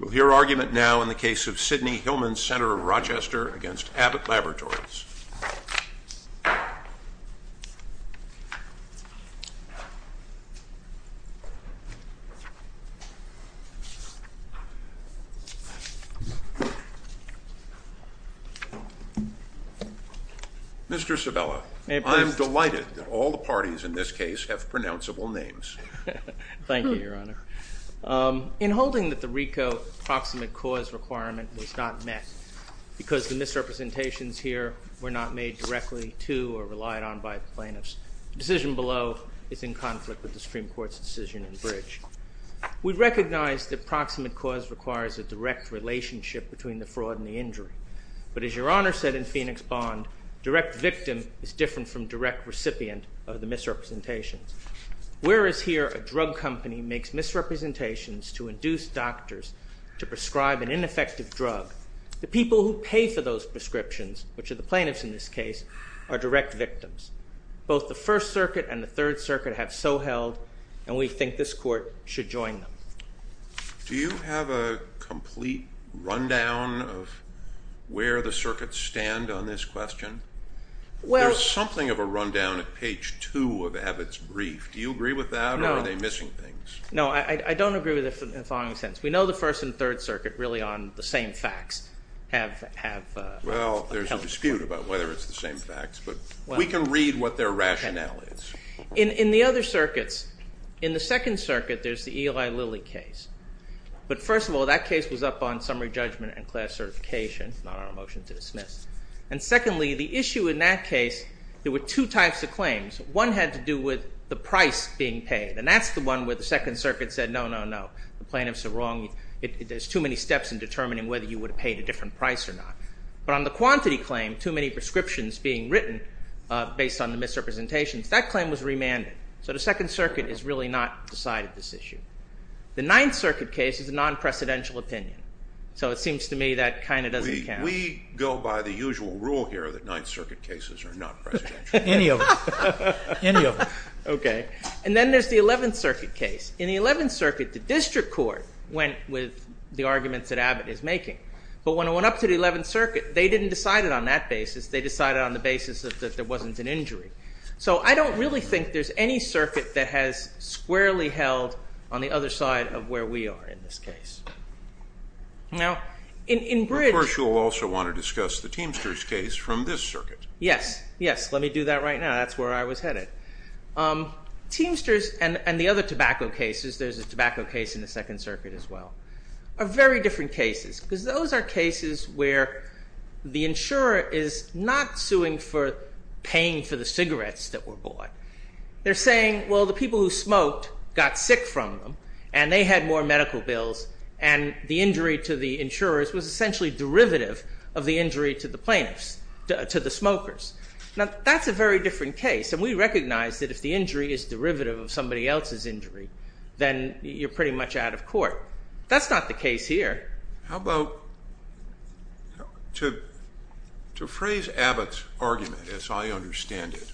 We'll hear argument now in the case of Sidney Hillman's Center of Rochester against Abbott Laboratories. Mr. Sabella, I am delighted that all the parties in this case have pronounceable names. Thank you, Your Honor. In holding that the RICO proximate cause requirement was not met because the misrepresentations here were not made directly to or relied on by plaintiffs, the decision below is in conflict with the Supreme Court's decision in Bridge. We recognize that proximate cause requires a direct relationship between the fraud and the injury, but as Your Honor said in Phoenix Bond, direct victim is different from direct recipient of the misrepresentations. Whereas here a drug company makes misrepresentations to induce doctors to prescribe an ineffective drug, the people who pay for those prescriptions, which are the plaintiffs in this case, are direct victims. Both the First Circuit and the Third Circuit have so held, and we think this Court should join them. Do you have a complete rundown of where the circuits stand on this question? There's something of a rundown at page two of Abbott's brief. Do you agree with that or are they missing things? No, I don't agree with it in the following sentence. We know the First and Third Circuit really on the same facts have held this Court. Well, there's a dispute about whether it's the same facts, but we can read what their rationale is. In the other circuits, in the Second Circuit, there's the Eli Lilly case. But first of all, that case was up on summary judgment and class certification, not on a motion to dismiss. And secondly, the issue in that case, there were two types of claims. One had to do with the price being paid, and that's the one where the Second Circuit said no, no, no, the plaintiffs are wrong. There's too many steps in determining whether you would have paid a different price or not. But on the quantity claim, too many prescriptions being written based on the misrepresentations, that claim was remanded. So the Second Circuit has really not decided this issue. The Ninth Circuit case is a non-presidential opinion. So it seems to me that kind of doesn't count. We go by the usual rule here that Ninth Circuit cases are not presidential. Any of them. Any of them. Okay. And then there's the Eleventh Circuit case. In the Eleventh Circuit, the District Court went with the arguments that Abbott is making. But when it went up to the Eleventh Circuit, they didn't decide it on that basis. They decided on the basis that there wasn't an injury. So I don't really think there's any circuit that has squarely held on the other side of where we are in this case. Now, in Bridge. Of course, you'll also want to discuss the Teamsters case from this circuit. Yes. Yes. Let me do that right now. That's where I was headed. Teamsters and the other tobacco cases, there's a tobacco case in the Second Circuit as well, are very different cases. Because those are cases where the insurer is not suing for paying for the cigarettes that were bought. They're saying, well, the people who smoked got sick from them, and they had more medical bills, and the injury to the insurers was essentially derivative of the injury to the plaintiffs, to the smokers. Now, that's a very different case. And we recognize that if the injury is derivative of somebody else's injury, then you're pretty much out of court. That's not the case here. How about to phrase Abbott's argument, as I understand it,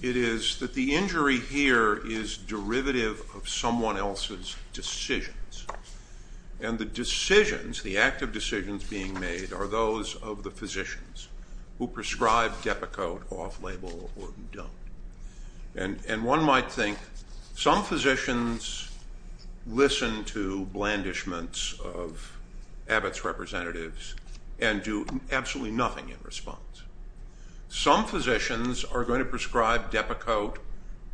it is that the injury here is derivative of someone else's decisions. And the decisions, the active decisions being made, are those of the physicians who prescribe Depakote off-label or who don't. And one might think some physicians listen to blandishments of Abbott's representatives and do absolutely nothing in response. Some physicians are going to prescribe Depakote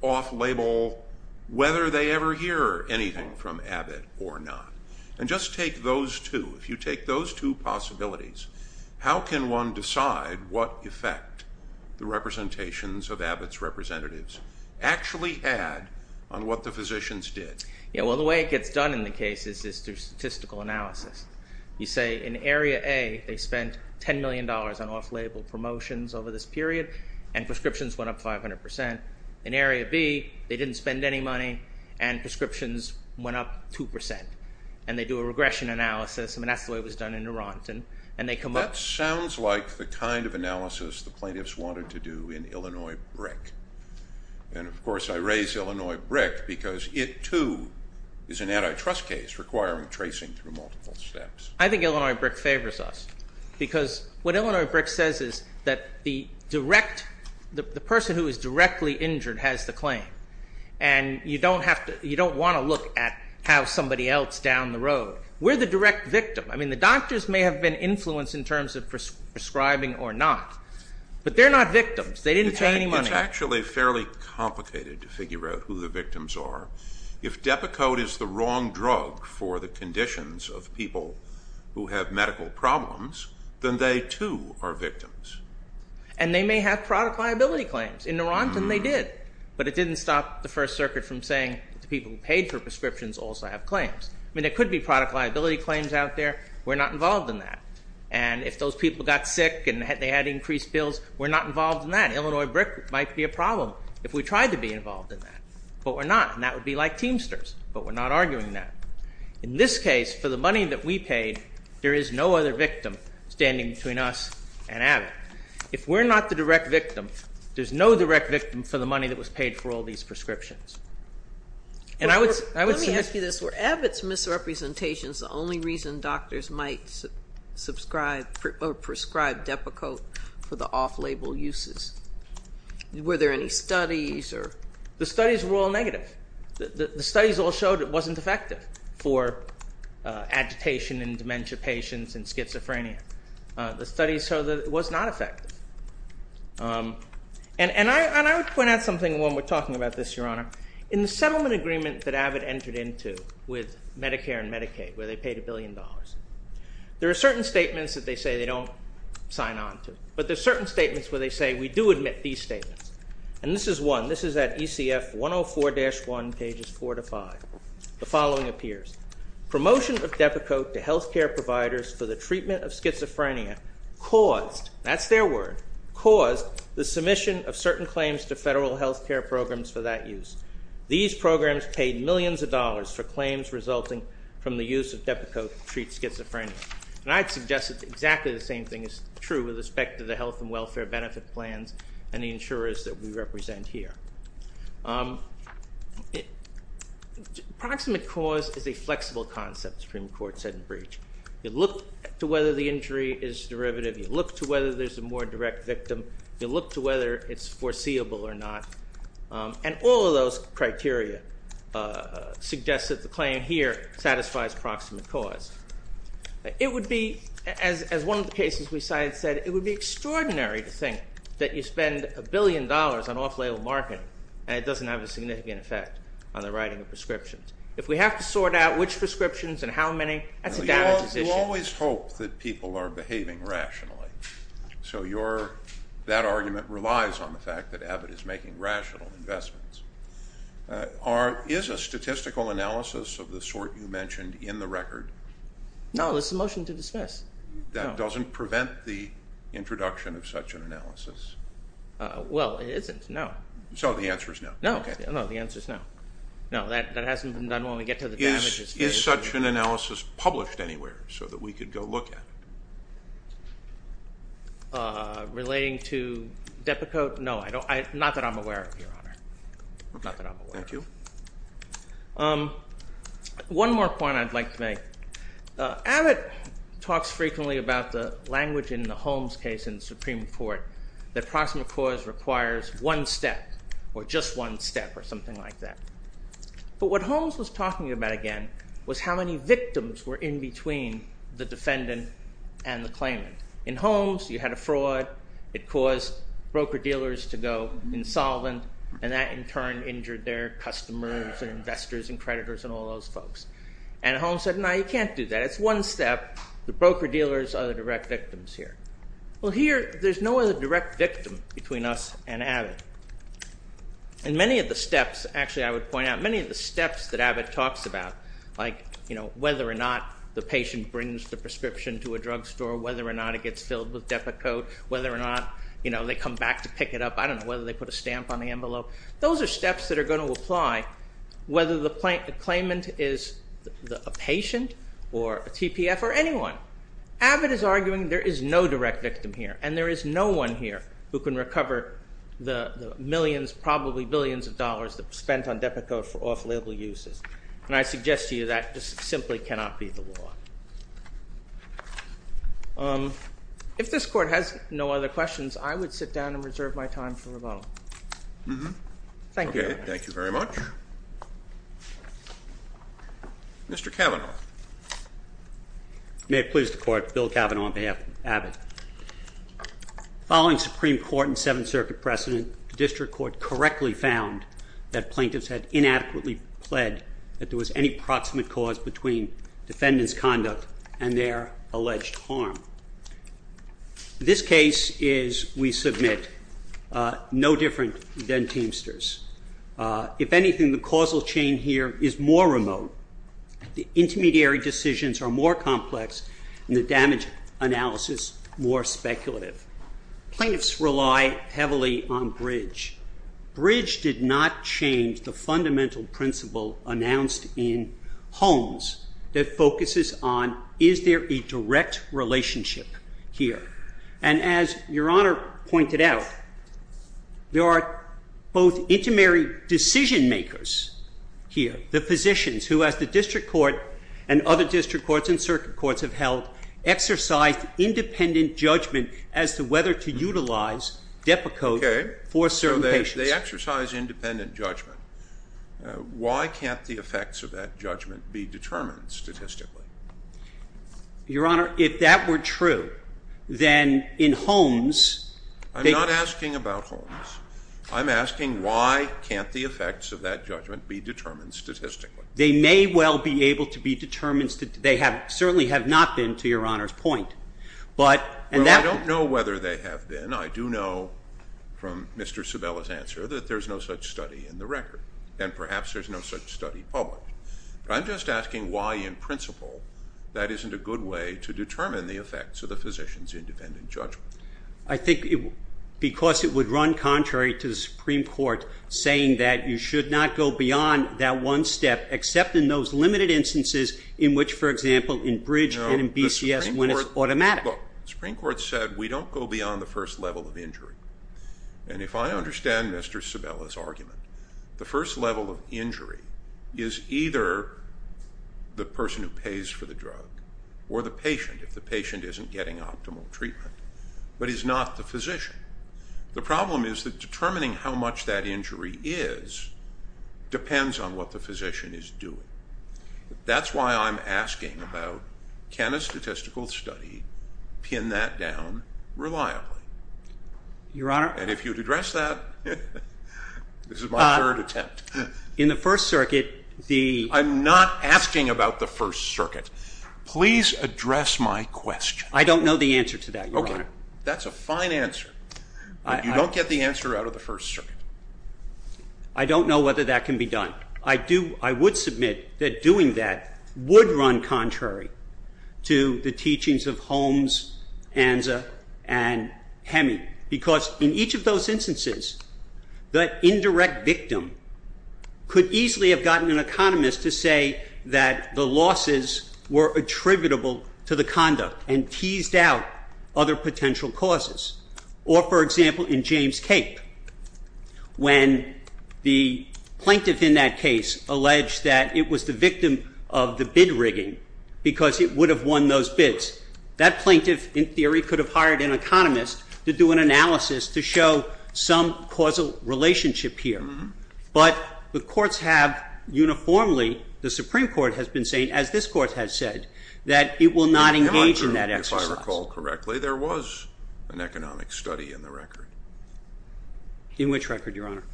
off-label whether they ever hear anything from Abbott or not. And just take those two. If you take those two possibilities, how can one decide what effect the representations of Abbott's representatives actually had on what the physicians did? Yeah, well, the way it gets done in the case is through statistical analysis. You say in Area A, they spent $10 million on off-label promotions over this period, and prescriptions went up 500%. In Area B, they didn't spend any money, and prescriptions went up 2%. And they do a regression analysis. I mean, that's the way it was done in Neuront. That sounds like the kind of analysis the plaintiffs wanted to do in Illinois Brick. And, of course, I raise Illinois Brick because it, too, is an antitrust case requiring tracing through multiple steps. I think Illinois Brick favors us. Because what Illinois Brick says is that the person who is directly injured has the claim. And you don't want to look at how somebody else downed the road. We're the direct victim. I mean, the doctors may have been influenced in terms of prescribing or not, but they're not victims. They didn't pay any money. It's actually fairly complicated to figure out who the victims are. If Depakote is the wrong drug for the conditions of people who have medical problems, then they, too, are victims. And they may have product liability claims. In Neuront, they did. But it didn't stop the First Circuit from saying the people who paid for prescriptions also have claims. I mean, there could be product liability claims out there. We're not involved in that. And if those people got sick and they had increased bills, we're not involved in that. Illinois Brick might be a problem if we tried to be involved in that. But we're not, and that would be like Teamsters. But we're not arguing that. In this case, for the money that we paid, there is no other victim standing between us and Abbott. If we're not the direct victim, there's no direct victim for the money that was paid for all these prescriptions. Let me ask you this. Were Abbott's misrepresentations the only reason doctors might prescribe Depakote for the off-label uses? Were there any studies? The studies were all negative. The studies all showed it wasn't effective for agitation in dementia patients and schizophrenia. The studies showed that it was not effective. And I would point out something when we're talking about this, Your Honor. In the settlement agreement that Abbott entered into with Medicare and Medicaid, where they paid a billion dollars, there are certain statements that they say they don't sign on to. But there are certain statements where they say we do admit these statements. And this is one. This is at ECF 104-1, pages 4 to 5. The following appears. Promotion of Depakote to health care providers for the treatment of schizophrenia caused, that's their word, caused the submission of certain claims to federal health care programs for that use. These programs paid millions of dollars for claims resulting from the use of Depakote to treat schizophrenia. And I'd suggest that exactly the same thing is true with respect to the health and welfare benefit plans and the insurers that we represent here. Proximate cause is a flexible concept, Supreme Court said in breach. You look to whether the injury is derivative. You look to whether there's a more direct victim. You look to whether it's foreseeable or not. And all of those criteria suggest that the claim here satisfies proximate cause. It would be, as one of the cases we cited said, it would be extraordinary to think that you spend a billion dollars on off-label marketing and it doesn't have a significant effect on the writing of prescriptions. If we have to sort out which prescriptions and how many, that's a data decision. You always hope that people are behaving rationally. So that argument relies on the fact that Abbott is making rational investments. Is a statistical analysis of the sort you mentioned in the record? No, it's a motion to dismiss. That doesn't prevent the introduction of such an analysis. Well, it isn't, no. So the answer is no. No, the answer is no. No, that hasn't been done when we get to the damages. Is such an analysis published anywhere so that we could go look at it? Relating to Depakote? No, not that I'm aware of, Your Honor. Okay, thank you. One more point I'd like to make. Abbott talks frequently about the language in the Holmes case in the Supreme Court that proximate cause requires one step or just one step or something like that. But what Holmes was talking about, again, was how many victims were in between the defendant and the claimant. In Holmes, you had a fraud. It caused broker-dealers to go insolvent, and that in turn injured their customers and investors and creditors and all those folks. And Holmes said, no, you can't do that. It's one step. The broker-dealers are the direct victims here. Well, here, there's no other direct victim between us and Abbott. And many of the steps, actually, I would point out, many of the steps that Abbott talks about, like whether or not the patient brings the prescription to a drugstore, whether or not it gets filled with Depakote, whether or not they come back to pick it up, I don't know whether they put a stamp on the envelope. Those are steps that are going to apply whether the claimant is a patient or a TPF or anyone. Abbott is arguing there is no direct victim here, and there is no one here who can recover the millions, probably billions of dollars that were spent on Depakote for off-label uses. And I suggest to you that just simply cannot be the law. If this Court has no other questions, I would sit down and reserve my time for rebuttal. Thank you. Okay, thank you very much. Mr. Cavanaugh. May it please the Court, Bill Cavanaugh on behalf of Abbott. Following Supreme Court and Seventh Circuit precedent, the district court correctly found that plaintiffs had inadequately pled that there was any proximate cause between defendants' conduct and their alleged harm. This case is, we submit, no different than Teamster's. If anything, the causal chain here is more remote. The intermediary decisions are more complex, and the damage analysis more speculative. Plaintiffs rely heavily on bridge. Bridge did not change the fundamental principle announced in Holmes that focuses on is there a direct relationship here. And as Your Honor pointed out, there are both intermediary decision-makers here, the physicians who, as the district court and other district courts and circuit courts have held, exercised independent judgment as to whether to utilize DEPA code for certain patients. Okay. So they exercise independent judgment. Why can't the effects of that judgment be determined statistically? Your Honor, if that were true, then in Holmes they could. I'm not asking about Holmes. I'm asking why can't the effects of that judgment be determined statistically. They may well be able to be determined statistically. They certainly have not been, to Your Honor's point. Well, I don't know whether they have been. I do know from Mr. Sabella's answer that there's no such study in the record, and perhaps there's no such study published. I'm just asking why in principle that isn't a good way to determine the effects of the physicians' independent judgment. I think because it would run contrary to the Supreme Court saying that you should not go beyond that one step except in those limited instances in which, for example, in Bridge and in BCS when it's automatic. Look, the Supreme Court said we don't go beyond the first level of injury. And if I understand Mr. Sabella's argument, the first level of injury is either the person who pays for the drug or the patient if the patient isn't getting optimal treatment, but is not the physician. The problem is that determining how much that injury is depends on what the physician is doing. That's why I'm asking about can a statistical study pin that down reliably. Your Honor. And if you'd address that, this is my third attempt. In the First Circuit, the... I'm not asking about the First Circuit. Please address my question. I don't know the answer to that, Your Honor. Okay. That's a fine answer, but you don't get the answer out of the First Circuit. I don't know whether that can be done. I would submit that doing that would run contrary to the teachings of Holmes, Anza, and Heming, because in each of those instances, the indirect victim could easily have gotten an economist to say that the losses were attributable to the conduct and teased out other potential causes. Or, for example, in James Cape, when the plaintiff in that case alleged that it was the victim of the bid rigging because it would have won those bids, that plaintiff, in theory, could have hired an economist to do an analysis to show some causal relationship here. But the courts have uniformly, the Supreme Court has been saying, as this Court has said, that it will not engage in that exercise. In Hemat Group, if I recall correctly, there was an economic study in the record. In which record, Your Honor?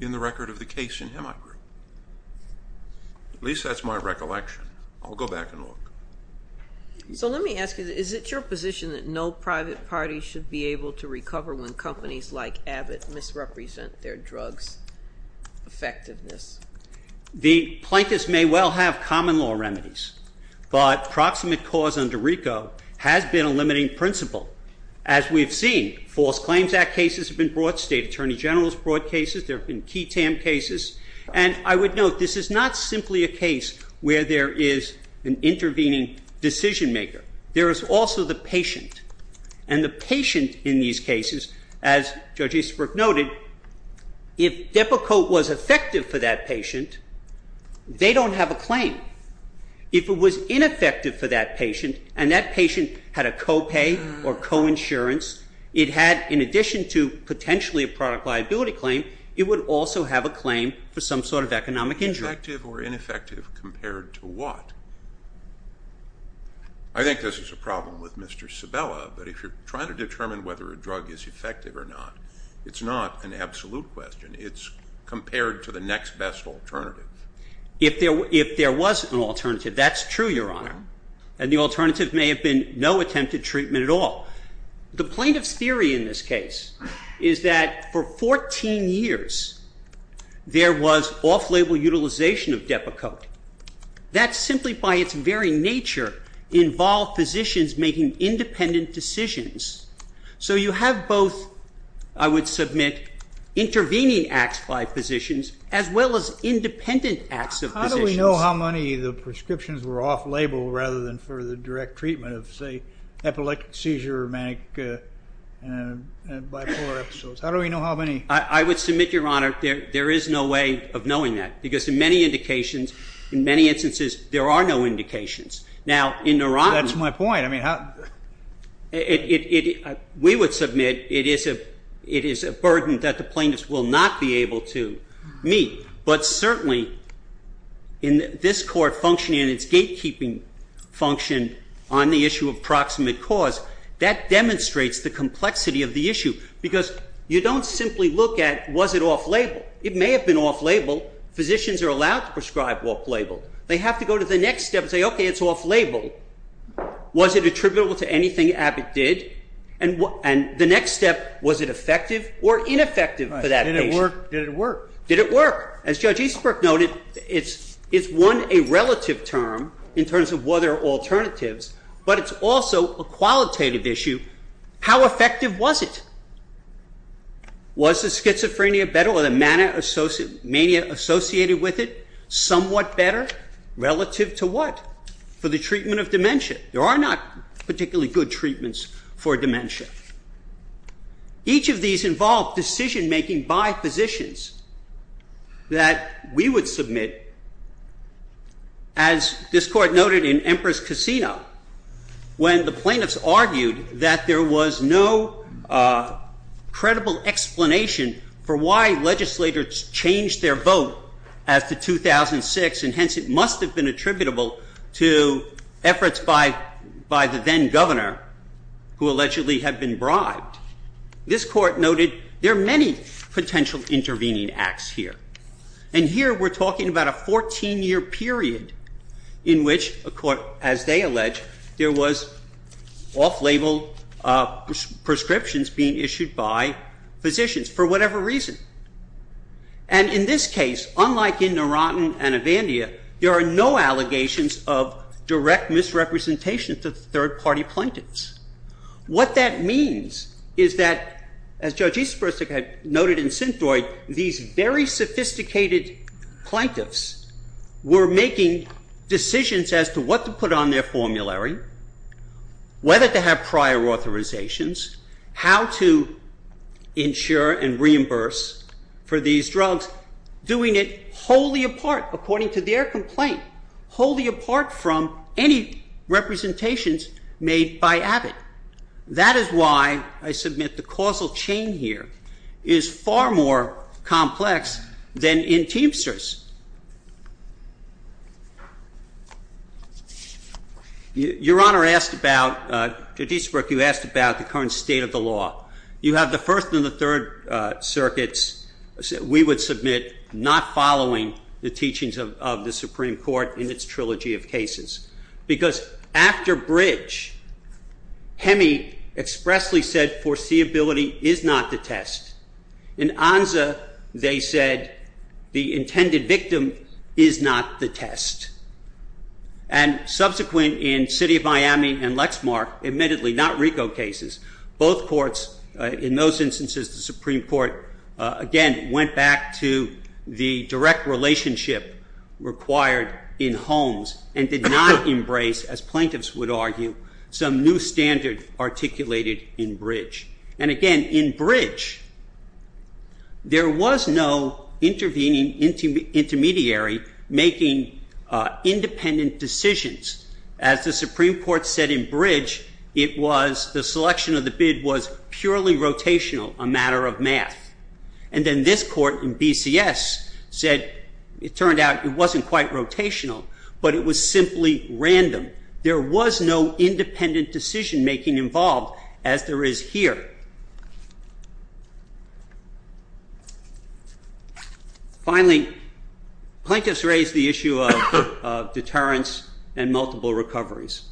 In the record of the case in Hemat Group. At least that's my recollection. I'll go back and look. So let me ask you, is it your position that no private party should be able to recover when companies like Abbott misrepresent their drug's effectiveness? The plaintiffs may well have common law remedies, but proximate cause under RICO has been a limiting principle. As we've seen, False Claims Act cases have been brought. State Attorney General's brought cases. There have been key TAM cases. And I would note, this is not simply a case where there is an intervening decision maker. There is also the patient. And the patient in these cases, as Judge Easterbrook noted, if Depakote was effective for that patient, they don't have a claim. If it was ineffective for that patient, and that patient had a copay or coinsurance, it had, in addition to potentially a product liability claim, it would also have a claim for some sort of economic injury. Effective or ineffective compared to what? I think this is a problem with Mr. Sabella, but if you're trying to determine whether a drug is effective or not, it's not an absolute question. It's compared to the next best alternative. If there was an alternative, that's true, Your Honor. And the alternative may have been no attempted treatment at all. The plaintiff's theory in this case is that for 14 years, there was off-label utilization of Depakote. That simply by its very nature involved physicians making independent decisions. So you have both, I would submit, intervening acts by physicians as well as independent acts of physicians. How do we know how many of the prescriptions were off-label rather than for the direct treatment of, say, epileptic seizure or manic bipolar episodes? How do we know how many? I would submit, Your Honor, there is no way of knowing that because in many indications, in many instances, there are no indications. That's my point. We would submit it is a burden that the plaintiff will not be able to meet, but certainly in this Court functioning in its gatekeeping function on the issue of proximate cause, that demonstrates the complexity of the issue because you don't simply look at was it off-label. It may have been off-label. Physicians are allowed to prescribe off-label. They have to go to the next step and say, okay, it's off-label. Was it attributable to anything Abbott did? And the next step, was it effective or ineffective for that patient? Did it work? Did it work? As Judge Eastbrook noted, it's one, a relative term in terms of whether alternatives, but it's also a qualitative issue. How effective was it? Was the schizophrenia better or the mania associated with it somewhat better? Relative to what? For the treatment of dementia. There are not particularly good treatments for dementia. Each of these involve decision-making by physicians that we would submit, as this Court noted in Empress Casino, when the plaintiffs argued that there was no credible explanation for why legislators changed their vote after 2006, and hence it must have been attributable to efforts by the then governor, who allegedly had been bribed. This Court noted there are many potential intervening acts here. And here we're talking about a 14-year period in which, as they allege, there was off-label prescriptions being issued by physicians for whatever reason. And in this case, unlike in Narottan and Avandia, there are no allegations of direct misrepresentation to third-party plaintiffs. What that means is that, as Judge Eastbrook had noted in Synthroid, these very sophisticated plaintiffs were making decisions as to what to put on their for these drugs, doing it wholly apart, according to their complaint, wholly apart from any representations made by Abbott. That is why, I submit, the causal chain here is far more complex than in Teamsters. Your Honor asked about, Judge Eastbrook, you asked about the current state of the law. You have the First and the Third Circuits, we would submit, not following the teachings of the Supreme Court in its trilogy of cases. Because after Bridge, Hemi expressly said foreseeability is not the test. In Anza, they said the intended victim is not the test. And subsequent in City of Miami and Lexmark, admittedly not RICO cases, both courts, in those instances, the Supreme Court, again, went back to the direct relationship required in Holmes and did not embrace, as plaintiffs would argue, some new standard articulated in Bridge. And again, in Bridge, there was no intervening intermediary making independent decisions. As the Supreme Court said in Bridge, it was, the selection of the bid was purely rotational, a matter of math. And then this court in BCS said, it turned out it wasn't quite rotational, but it was simply random. There was no independent decision making involved, as there is here. Finally, plaintiffs raised the issue of deterrence and multiple recoveries.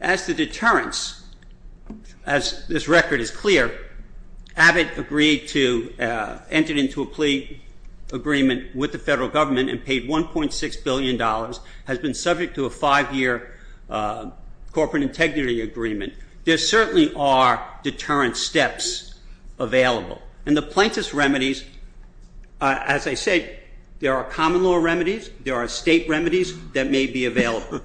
As to deterrence, as this record is clear, Abbott agreed to, entered into a plea agreement with the federal government and paid $1.6 billion, has been subject to a five-year corporate integrity agreement. There certainly are deterrence steps available. And the plaintiff's remedies, as I say, there are common law remedies, there are state remedies that may be available.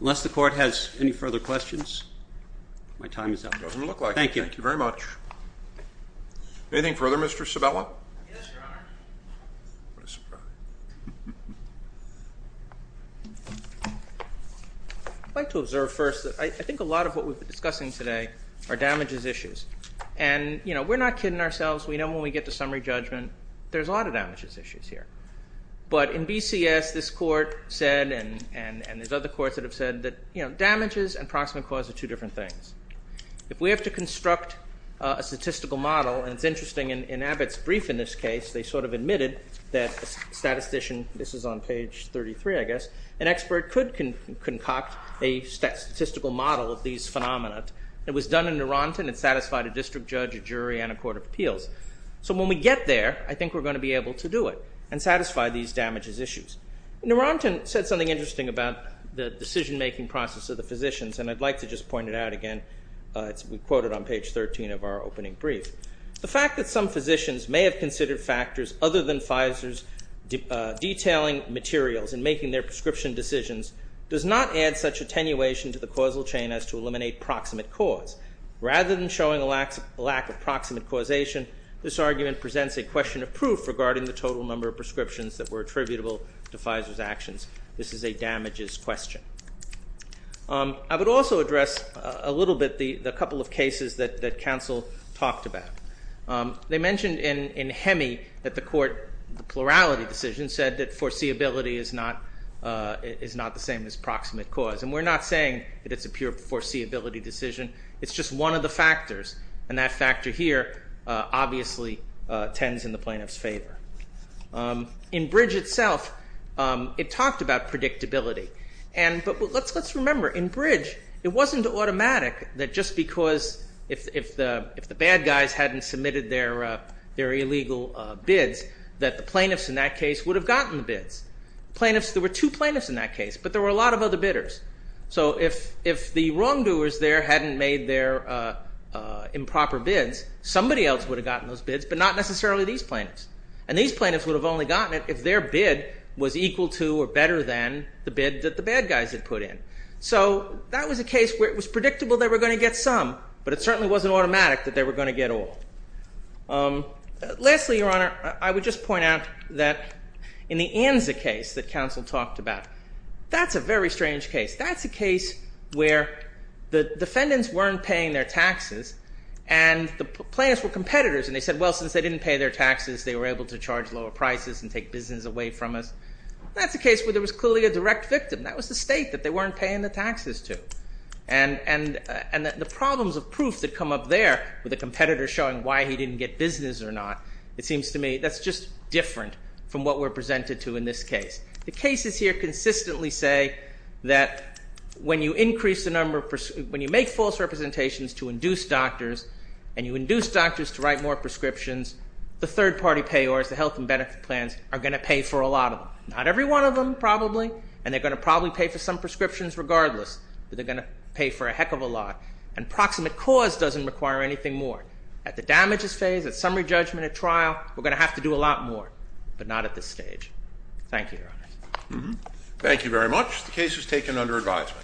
Unless the Court has any further questions, my time is up. Doesn't look like it. Thank you. Thank you very much. Anything further, Mr. Sabella? Yes, Your Honor. What a surprise. I'd like to observe first that I think a lot of what we've been discussing today are damages issues. And we're not kidding ourselves. We know when we get to summary judgment, there's a lot of damages issues here. But in BCS, this court said, and there's other courts that have said, that damages and proximate cause are two different things. If we have to construct a statistical model, and it's interesting, in Abbott's brief in this case, they sort of admitted that a statistician, this is on page 33, I guess, an expert could concoct a statistical model of these phenomena. It was done in Nuronten. It satisfied a district judge, a jury, and a court of appeals. So when we get there, I think we're going to be able to do it and satisfy these damages issues. Nuronten said something interesting about the decision-making process of the physicians, and I'd like to just point it out again. We quote it on page 13 of our opening brief. The fact that some physicians may have considered factors other than Pfizer's detailing materials in making their prescription decisions does not add such attenuation to the causal chain as to eliminate proximate cause. Rather than showing a lack of proximate causation, this argument presents a question of proof regarding the total number of prescriptions that were attributable to Pfizer's actions. This is a damages question. I would also address a little bit the couple of cases that counsel talked about. They mentioned in Hemi that the court, the plurality decision, said that foreseeability is not the same as proximate cause, and we're not saying that it's a pure foreseeability decision. It's just one of the factors, and that factor here obviously tends in the plaintiff's favor. In Bridge itself, it talked about predictability, but let's remember in Bridge it wasn't automatic that just because if the bad guys hadn't submitted their illegal bids that the plaintiffs in that case would have gotten the bids. There were two plaintiffs in that case, but there were a lot of other bidders. So if the wrongdoers there hadn't made their improper bids, somebody else would have gotten those bids, but not necessarily these plaintiffs, and these plaintiffs would have only gotten it if their bid was equal to or better than the bid that the bad guys had put in. So that was a case where it was predictable they were going to get some, but it certainly wasn't automatic that they were going to get all. Lastly, Your Honor, I would just point out that in the Anza case that counsel talked about, that's a very strange case. That's a case where the defendants weren't paying their taxes, and the plaintiffs were competitors, and they said, well, since they didn't pay their taxes, they were able to charge lower prices and take business away from us. That's a case where there was clearly a direct victim. That was the state that they weren't paying the taxes to. And the problems of proof that come up there with a competitor showing why he didn't get business or not, it seems to me that's just different from what we're presented to in this case. The cases here consistently say that when you make false representations to induce doctors and you induce doctors to write more prescriptions, the third party payors, the health and benefit plans, are going to pay for a lot of them. Not every one of them, probably, and they're going to probably pay for some prescriptions regardless, but they're going to pay for a heck of a lot. And proximate cause doesn't require anything more. At the damages phase, at summary judgment, at trial, we're going to have to do a lot more, but not at this stage. Thank you, Your Honor. Thank you very much. The case was taken under advisement.